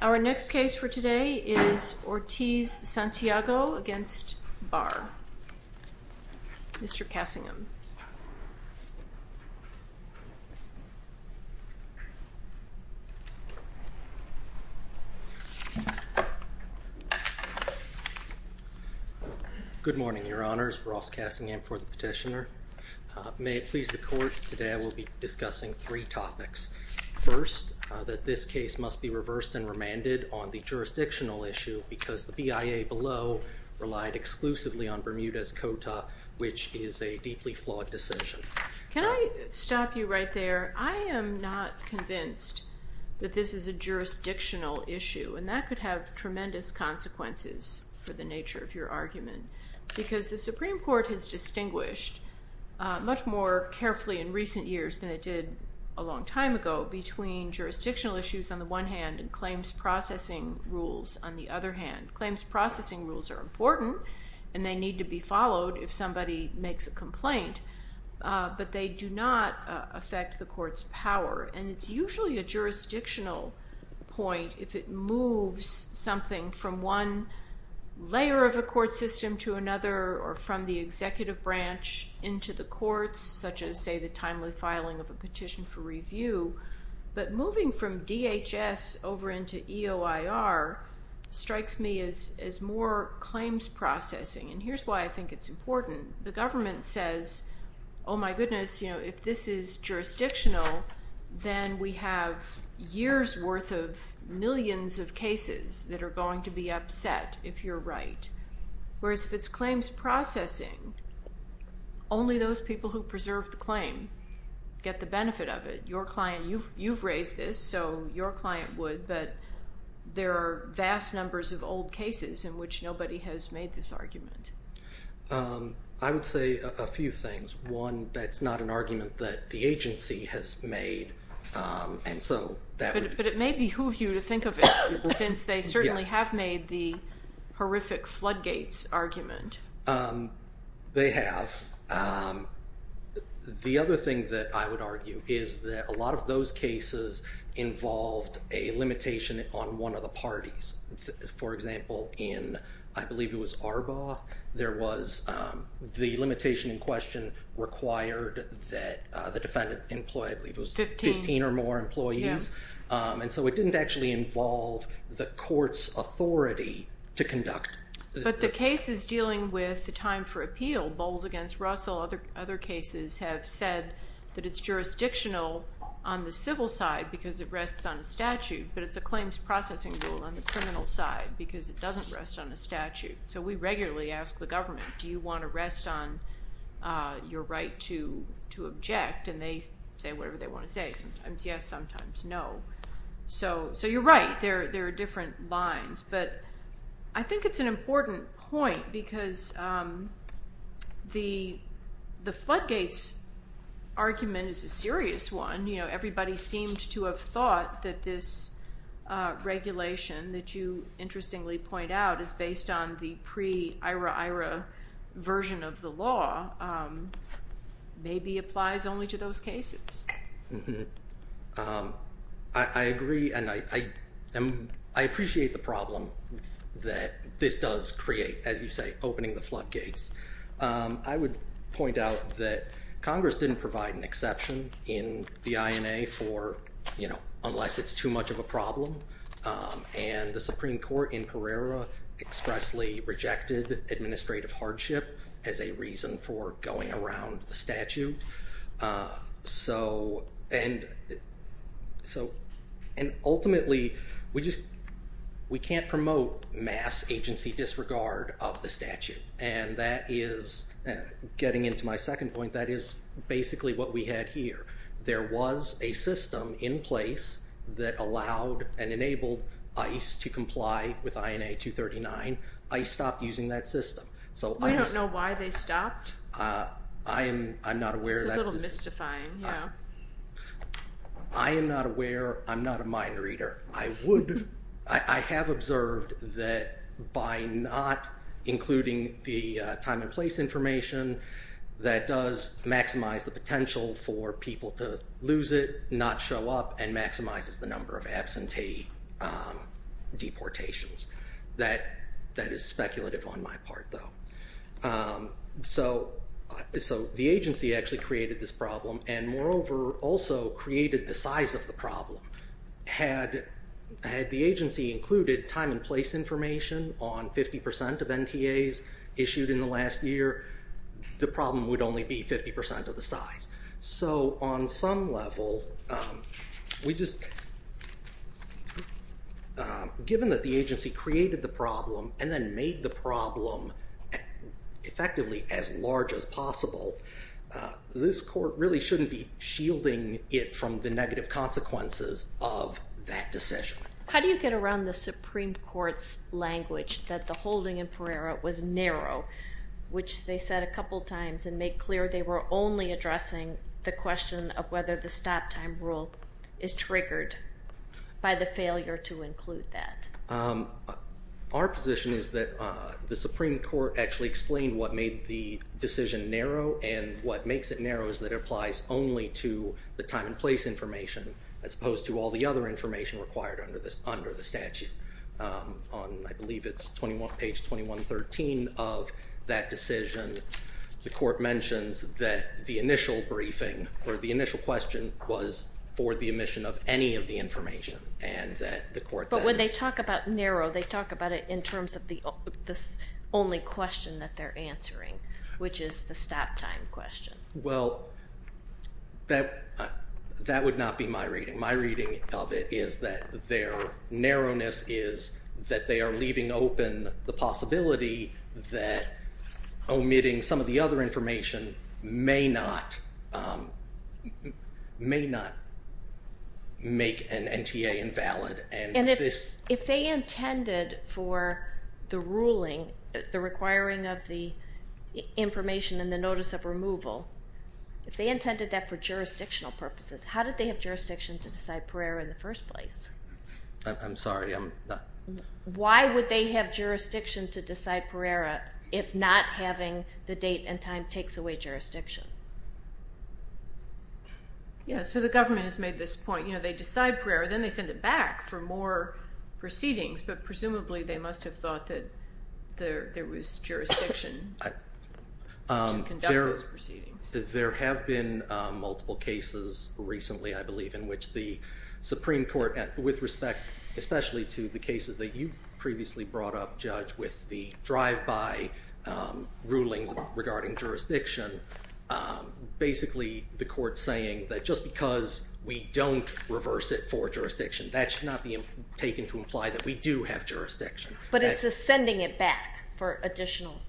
Our next case for today is Ortiz-Santiago v. Barr. Mr. Cassingham. Good morning, Your Honors. Ross Cassingham for the petitioner. May it please the Court, discussing three topics. First, that this case must be reversed and remanded on the jurisdictional issue because the BIA below relied exclusively on Bermuda's quota, which is a deeply flawed decision. Can I stop you right there? I am not convinced that this is a jurisdictional issue, and that could have tremendous consequences for the nature of your argument, because the Supreme a long time ago, between jurisdictional issues on the one hand and claims processing rules on the other hand. Claims processing rules are important, and they need to be followed if somebody makes a complaint, but they do not affect the Court's power. It's usually a jurisdictional point if it moves something from one layer of a court system to another, or from the executive branch into the courts, such as, say, the timely filing of a petition for review. But moving from DHS over into EOIR strikes me as more claims processing, and here's why I think it's important. The government says, oh my goodness, if this is jurisdictional, then we have years' worth of millions of cases that are going to be processing. Only those people who preserve the claim get the benefit of it. You've raised this, so your client would, but there are vast numbers of old cases in which nobody has made this argument. I would say a few things. One, that's not an argument that the agency has made, and so that would... But it may behoove you to think of it, since they certainly have made the horrific floodgates argument. They have. The other thing that I would argue is that a lot of those cases involved a limitation on one of the parties. For example, in, I believe it was Arbaugh, there was the limitation in question required that the defendant employ, I believe it was 15 or more employees, and so it didn't actually involve the Court's authority to conduct... But the cases dealing with the time for appeal, Bowles against Russell, other cases have said that it's jurisdictional on the civil side because it rests on the statute, but it's a claims processing rule on the criminal side because it doesn't rest on the statute. So we regularly ask the government, do you want to rest on your right to object? And they say whatever they want to say. Sometimes yes, sometimes no. So you're right, there are different lines. But I think it's an important point because the floodgates argument is a serious one. Everybody seemed to have thought that this regulation that you interestingly point out is based on the pre-Ira-Ira version of the law, maybe applies only to those cases. Mm-hmm. I agree, and I appreciate the problem that this does create, as you say, opening the floodgates. I would point out that Congress didn't provide an exception in the INA for, unless it's too much of a problem, and the Supreme Court in Pereira expressly rejected administrative hardship as a reason for going around the statute. And ultimately, we can't promote mass agency disregard of the statute, and that is, getting into my second point, that is basically what we had here. There was a system in place that allowed and enabled people to apply with INA 239. I stopped using that system. We don't know why they stopped. It's a little mystifying, yeah. I am not aware. I'm not a mind reader. I have observed that by not including the time and place information, that does maximize the potential for people to lose it, not show up, and maximizes the number of absentee deportations. That is speculative on my part, though. So the agency actually created this problem, and moreover, also created the size of the problem. Had the agency included time and place information on 50% of NTAs issued in the last year, the problem would only be 50% of the size. So on some level, given that the agency created the problem and then made the problem effectively as large as possible, this court really shouldn't be shielding it from the negative consequences of that decision. How do you get around the Supreme Court's language that the holding in Pereira was narrow, which they said a couple times and made clear they were only addressing the question of whether the stop time rule is triggered by the failure to include that? Our position is that the Supreme Court actually explained what made the decision narrow, and what makes it narrow is that it applies only to the time and place information, as opposed to all the other information required under the statute. I believe it's page 2113 of that decision. The court mentions that the initial briefing, or the initial question, was for the omission of any of the information. But when they talk about narrow, they talk about it in terms of the only question that they're answering, which is the stop time question. Well, that would not be my reading. My reading of it is that their narrowness is that they are leaving open the possibility that omitting some of the other information may not make an NTA invalid. And if they intended for the ruling, the requiring of the information and the notice of removal, if they intended that for jurisdictional purposes, how did they have jurisdiction to decide Pereira in the first place? Why would they have jurisdiction to decide Pereira if not having the date and time takes away jurisdiction? The government has made this point. They decide Pereira, then they send it back for more proceedings, but presumably they must have thought that there was jurisdiction to conduct those proceedings. There have been multiple cases recently, I believe, in which the Supreme Court, with respect especially to the cases that you previously brought up, Judge, with the drive-by rulings regarding jurisdiction, basically the court's saying that just because we don't reverse it for jurisdiction, that should not be taken to imply that we do have jurisdiction. But it's a sending it back for additional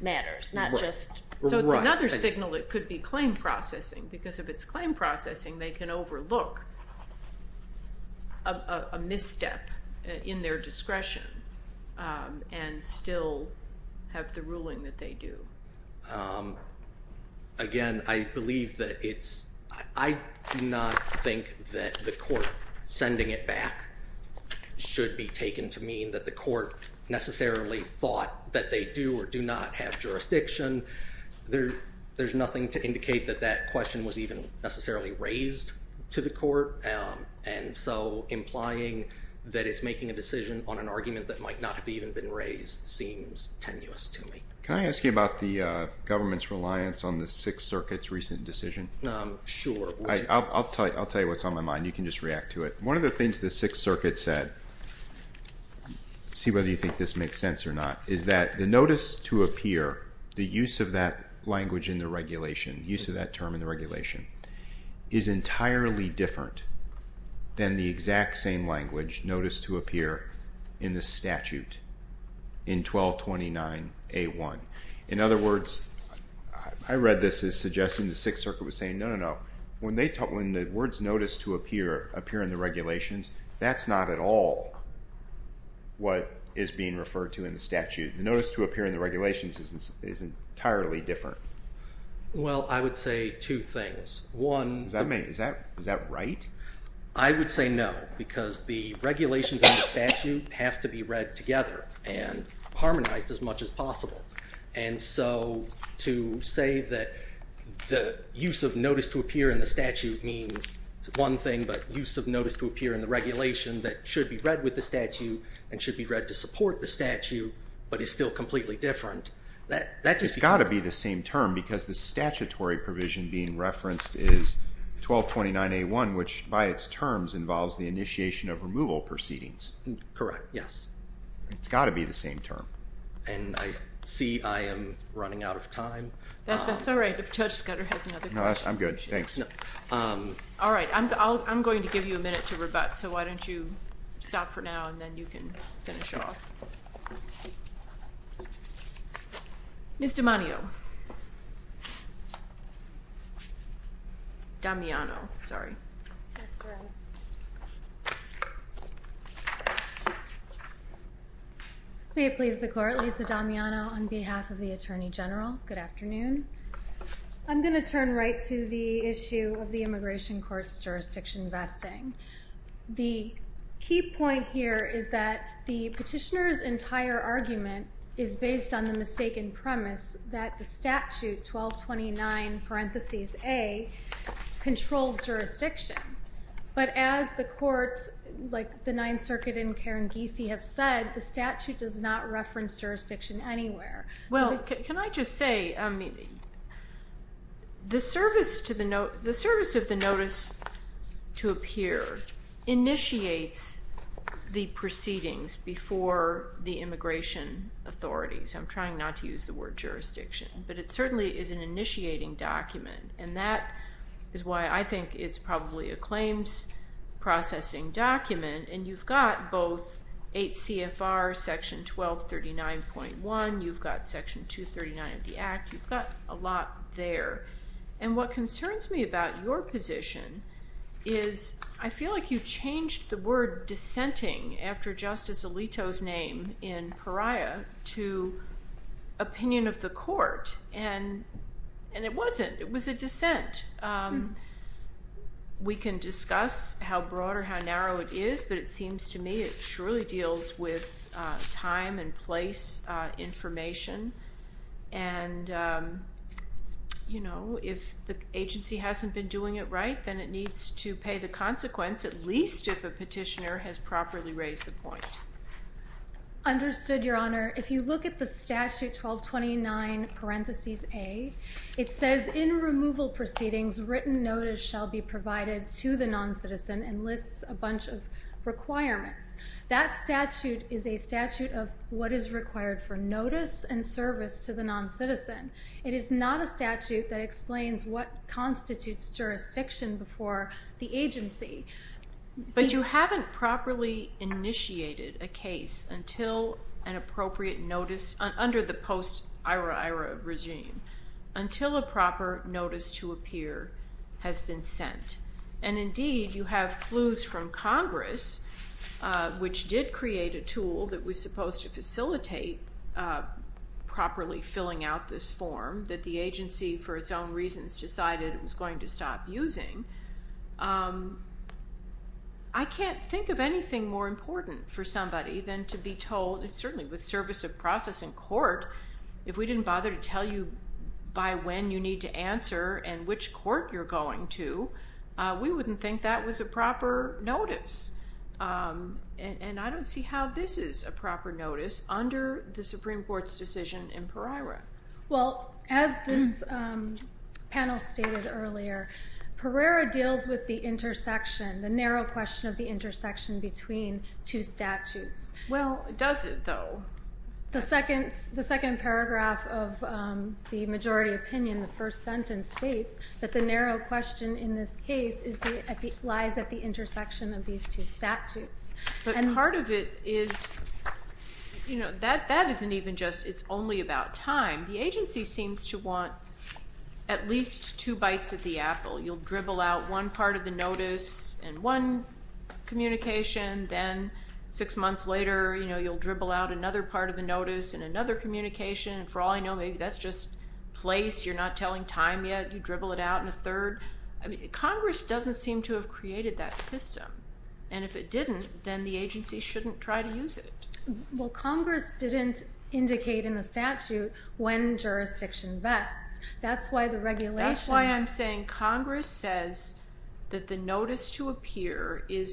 matters, not just... Right. So it's another signal that it could be claim processing, because if it's claim processing, they can overlook a misstep in their discretion and still have the ruling that they do. Again, I believe that it's... I do not think that the court sending it back should be taken to mean that the court necessarily thought that they do or do not have jurisdiction. There's nothing to indicate that that question was even necessarily raised to the court, and so implying that it's making a decision on an argument that might not have even been raised seems tenuous to me. Can I ask you about the government's reliance on the Sixth Circuit's recent decision? Sure. I'll tell you what's on my mind. You can just react to it. One of the things the Sixth Circuit said, see whether you think this makes sense or not, is that the notice to appear, the use of that language in the regulation, use of that term in the regulation, is entirely different than the exact same language noticed to appear in the statute in 1229A1. In other words, I read this as suggesting the Sixth Circuit was saying, no, no, no, when the words notice to appear appear in the regulations, that's not at all what is being referred to in the statute. The notice to appear in the regulations is entirely different. Well, I would say two things. One... Is that right? I would say no, because the regulations in the statute have to be read together and harmonized as much as possible. And so, to say that the use of notice to appear in the statute means one thing, but use of notice to appear in the regulation that should be read with the statute and should be read to support the statute, but is still completely different, that just becomes... It's got to be the same term, because the statutory provision being referenced is 1229A1, which by its terms involves the initiation of removal proceedings. Correct, yes. It's got to be the same term. And I see I am running out of time. That's all right. If Judge Scudder has another question... No, I'm good, thanks. All right, I'm going to give you a minute to rebut, so why don't you stop for now, and then you can finish off. Ms. D'Amanio. Damiano, sorry. That's right. May it please the Court, Lisa Damiano on behalf of the Attorney General. Good afternoon. I'm going to turn right to the issue of the immigration court's jurisdiction vesting. The key point here is that the petitioner's entire argument is based on the mistaken premise that the statute 1229, parentheses, A, controls jurisdiction. But as the courts, like the Ninth Circuit and Kerengethi, have said, the statute does not reference jurisdiction anywhere. Well, can I just say, the service of the notice to appear initiates the proceedings before the immigration authorities. I'm trying not to use the word jurisdiction, but it certainly is an initiating document, and that is why I think it's probably a claims processing document. And you've got both 8 CFR, Section 1239.1, you've got Section 239 of the Act, you've got a lot there. And what concerns me about your position is, I feel like you changed the word dissenting, after Justice Alito's name in pariah, to opinion of the court. I don't know how thorough it is, but it seems to me it surely deals with time and place information. And, you know, if the agency hasn't been doing it right, then it needs to pay the consequence, at least if a petitioner has properly raised the point. Understood, Your Honor. If you look at the statute 1229, parentheses, A, it says, in removal proceedings, written notice shall be provided to the non-citizen, and lists a bunch of requirements. That statute is a statute of what is required for notice and service to the non-citizen. It is not a statute that explains what constitutes jurisdiction before the agency. But you haven't properly initiated a case until an appropriate notice, under the post-Ira-Ira regime, until a proper notice to appear has been sent. And indeed, you have clues from Congress, which did create a tool that was supposed to facilitate properly filling out this form, that the agency, for its own reasons, decided it was going to stop using. I can't think of anything more important for somebody than to be told, certainly with service of process in court, if we didn't bother to tell you by when you need to answer, and which court you're going to, we wouldn't think that was a proper notice. And I don't see how this is a proper notice under the Supreme Court's decision in Pereira. Well, as this panel stated earlier, Pereira deals with the intersection, the narrow question of the intersection between two statutes. Well, does it, though? The second paragraph of the majority opinion, the first sentence, states that the narrow question in this case lies at the intersection of these two statutes. But part of it is, you know, that isn't even just, it's only about time. The agency seems to want at least two bites of the apple. You'll dribble out one part of the notice, and one communication, then six months later, you know, you'll dribble out another part of the notice, and another communication, and for all I know, maybe that's just place, you're not telling time yet, you dribble it out in a third. Congress doesn't seem to have created that system. And if it didn't, then the agency shouldn't try to use it. Well, Congress didn't indicate in the statute when jurisdiction vests. That's why the regulation... That's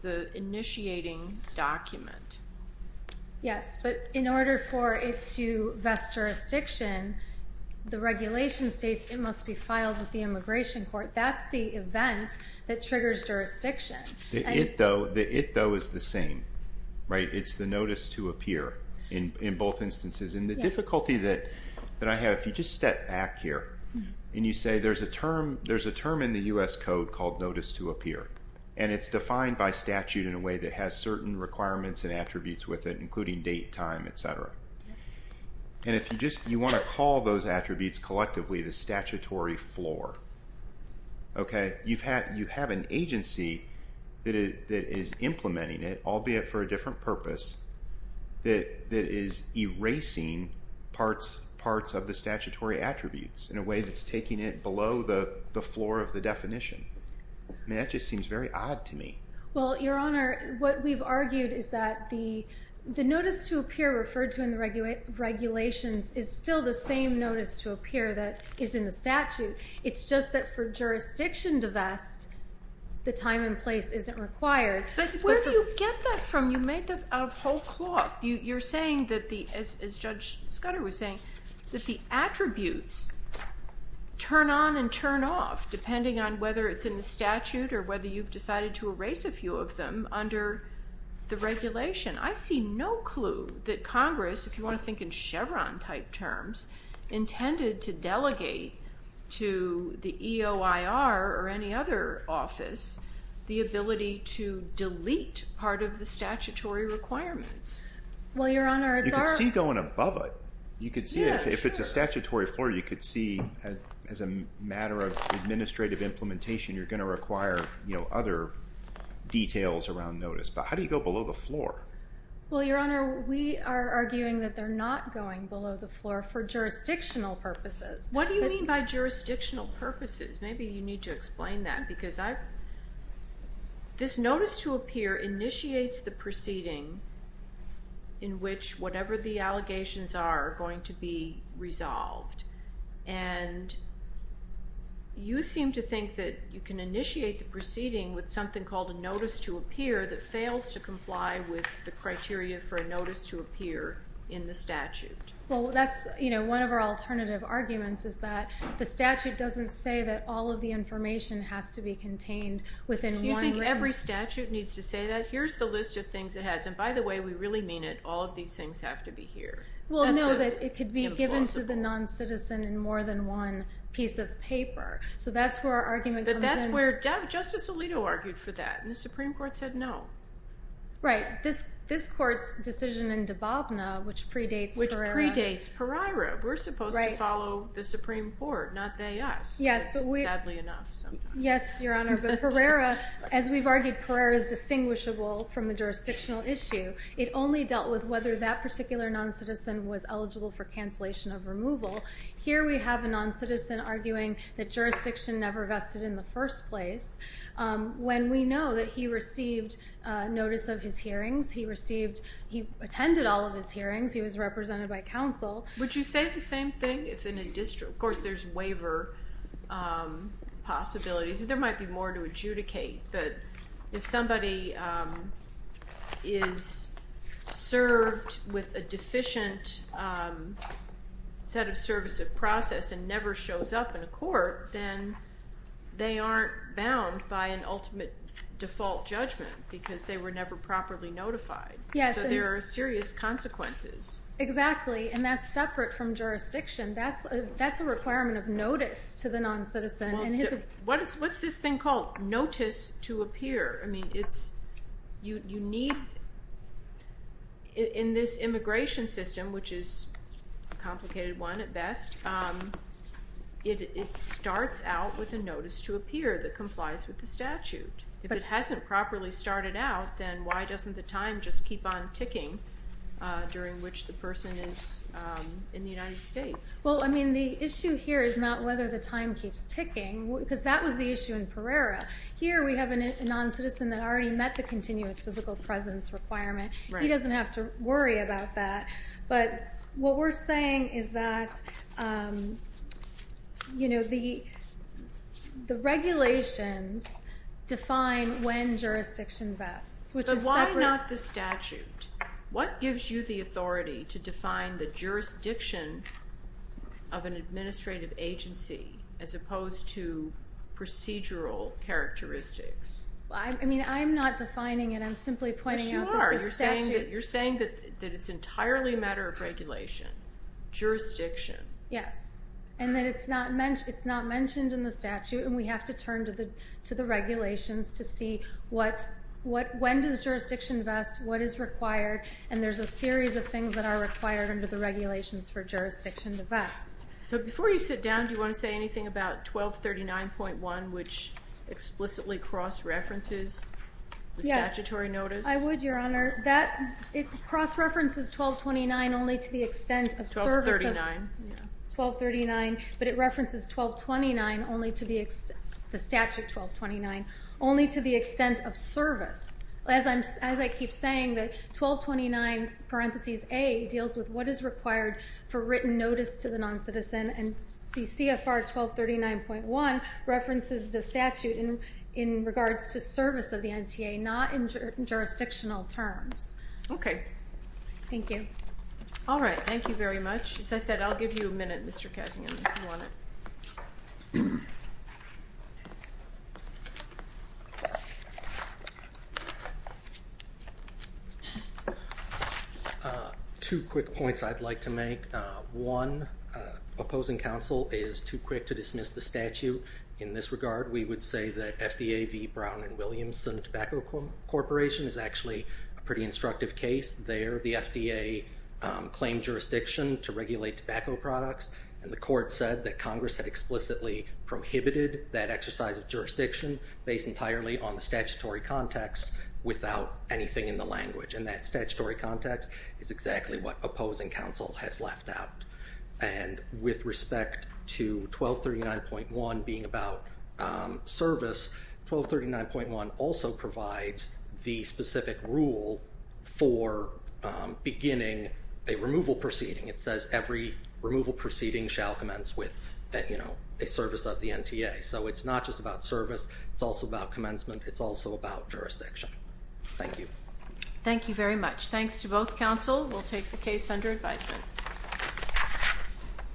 the initiating document. Yes, but in order for it to vest jurisdiction, the regulation states it must be filed with the immigration court. That's the event that triggers jurisdiction. It, though, is the same, right? It's the notice to appear in both instances. And the difficulty that I have, if you just step back here, and you say there's a term in the U.S. Code called notice to appear, and it's defined by statute in a way that has certain requirements and attributes with it, including date, time, etc. And if you just, you want to call those attributes collectively the statutory floor, okay? You have an agency that is implementing it, albeit for a different purpose, that is erasing parts of the statutory attributes in a way that's taking it below the floor of the definition. I mean, that just seems very odd to me. Well, Your Honor, what we've argued is that the notice to appear referred to in the regulations is still the same notice to appear that is in the statute. It's just that for jurisdiction to vest, the time and place isn't required. But where do you get that from? You made that out of whole cloth. You're saying that the, as Judge Scudder was saying, that the attributes turn on and turn off, depending on whether it's in the statute or whether you've decided to erase a few of them under the regulation. I see no clue that Congress, if you want to think in Chevron-type terms, intended to delegate to the EOIR or any other office the ability to delete part of the statutory requirements. Well, Your Honor, it's our... You could see if it's a statutory floor, you could see as a matter of administrative implementation, you're going to require, you know, other details around notice. But how do you go below the floor? Well, Your Honor, we are arguing that they're not going below the floor for jurisdictional purposes. What do you mean by jurisdictional purposes? Maybe you need to explain that, because I've... Notice to appear initiates the proceeding in which whatever the allegations are going to be resolved. And you seem to think that you can initiate the proceeding with something called a notice to appear that fails to comply with the criteria for a notice to appear in the statute. Well, that's, you know, one of our alternative arguments is that the statute doesn't say that all of the information has to be contained within one written... Do you think every statute needs to say that? Here's the list of things it has. And by the way, we really mean it, all of these things have to be here. Well, no, that it could be given to the non-citizen in more than one piece of paper. So that's where our argument comes in. But that's where Justice Alito argued for that, and the Supreme Court said no. Right. This Court's decision in Dababna, which predates... Which predates Peraira. We're supposed to follow the Supreme Court, not they-us, sadly enough. Yes, Your Honor, but as we've argued, Peraira is distinguishable from the jurisdictional issue. It only dealt with whether that particular non-citizen was eligible for cancellation of removal. Here we have a non-citizen arguing that jurisdiction never vested in the first place. When we know that he received notice of his hearings, he attended all of his hearings, he was represented by counsel... Would you say the same thing if in a district... Of course, there's waiver possibilities. There might be more to adjudicate, but if somebody is served with a deficient set of service of process and never shows up in a court, then they aren't bound by an ultimate default judgment because they were never properly notified. Yes. So there are serious consequences. Exactly, and that's separate from jurisdiction. That's a requirement of notice to the non-citizen. What's this thing called? Notice to appear. In this immigration system, which is a complicated one at best, it starts out with a notice to appear that complies with the statute. If it hasn't properly started out, then why doesn't the time just keep on ticking during which the person is in the United States? The issue here is not whether the time keeps ticking, because that was the issue in Pereira. Here we have a non-citizen that already met the continuous physical presence requirement. He doesn't have to worry about that, but what we're saying is that the regulations define when jurisdiction vests, which is separate. But why not the statute? What gives you the authority to define the jurisdiction of an administrative agency as opposed to procedural characteristics? I'm not defining it. I'm simply pointing out that the statute... Yes, you are. You're saying that it's entirely a matter of regulation, jurisdiction. Yes, and that it's not mentioned in the statute, and we have to turn to the regulations to see when does jurisdiction vest, what is required, and there's a series of things that are required under the regulations for jurisdiction to vest. Before you sit down, do you want to say anything about 1239.1, which explicitly cross-references the statutory notice? Yes, I would, Your Honor. It cross-references 1229 only to the extent of service. 1239. 1239, but it references 1229 only to the extent... It's the statute 1229, only to the extent of service. As I keep saying, the 1229 parentheses A deals with what is required for written notice to the non-citizen, and the CFR 1239.1 references the statute in regards to service of the NTA, not in jurisdictional terms. Okay. Thank you. All right, thank you very much. As I said, I'll give you a minute, Mr. Kessinger, if you want it. Two quick points I'd like to make. One, opposing counsel is too quick to dismiss the statute in this regard. We would say that FDA v. Brown and Williamson Tobacco Corporation is actually a pretty instructive case. There, the FDA claimed jurisdiction to regulate tobacco products, and the court said that Congress had explicitly prohibited that exercise of jurisdiction based entirely on the statutory context without anything in the language, and that statutory context is exactly what opposing counsel has left out. And with respect to 1239.1 being about service, 1239.1 also provides the specific rule for beginning a removal proceeding. It says every removal proceeding shall commence with a service of the NTA. So it's not just about service, it's also about commencement, it's also about jurisdiction. Thank you. Thank you very much. Thanks to both counsel. We'll take the case under advisement.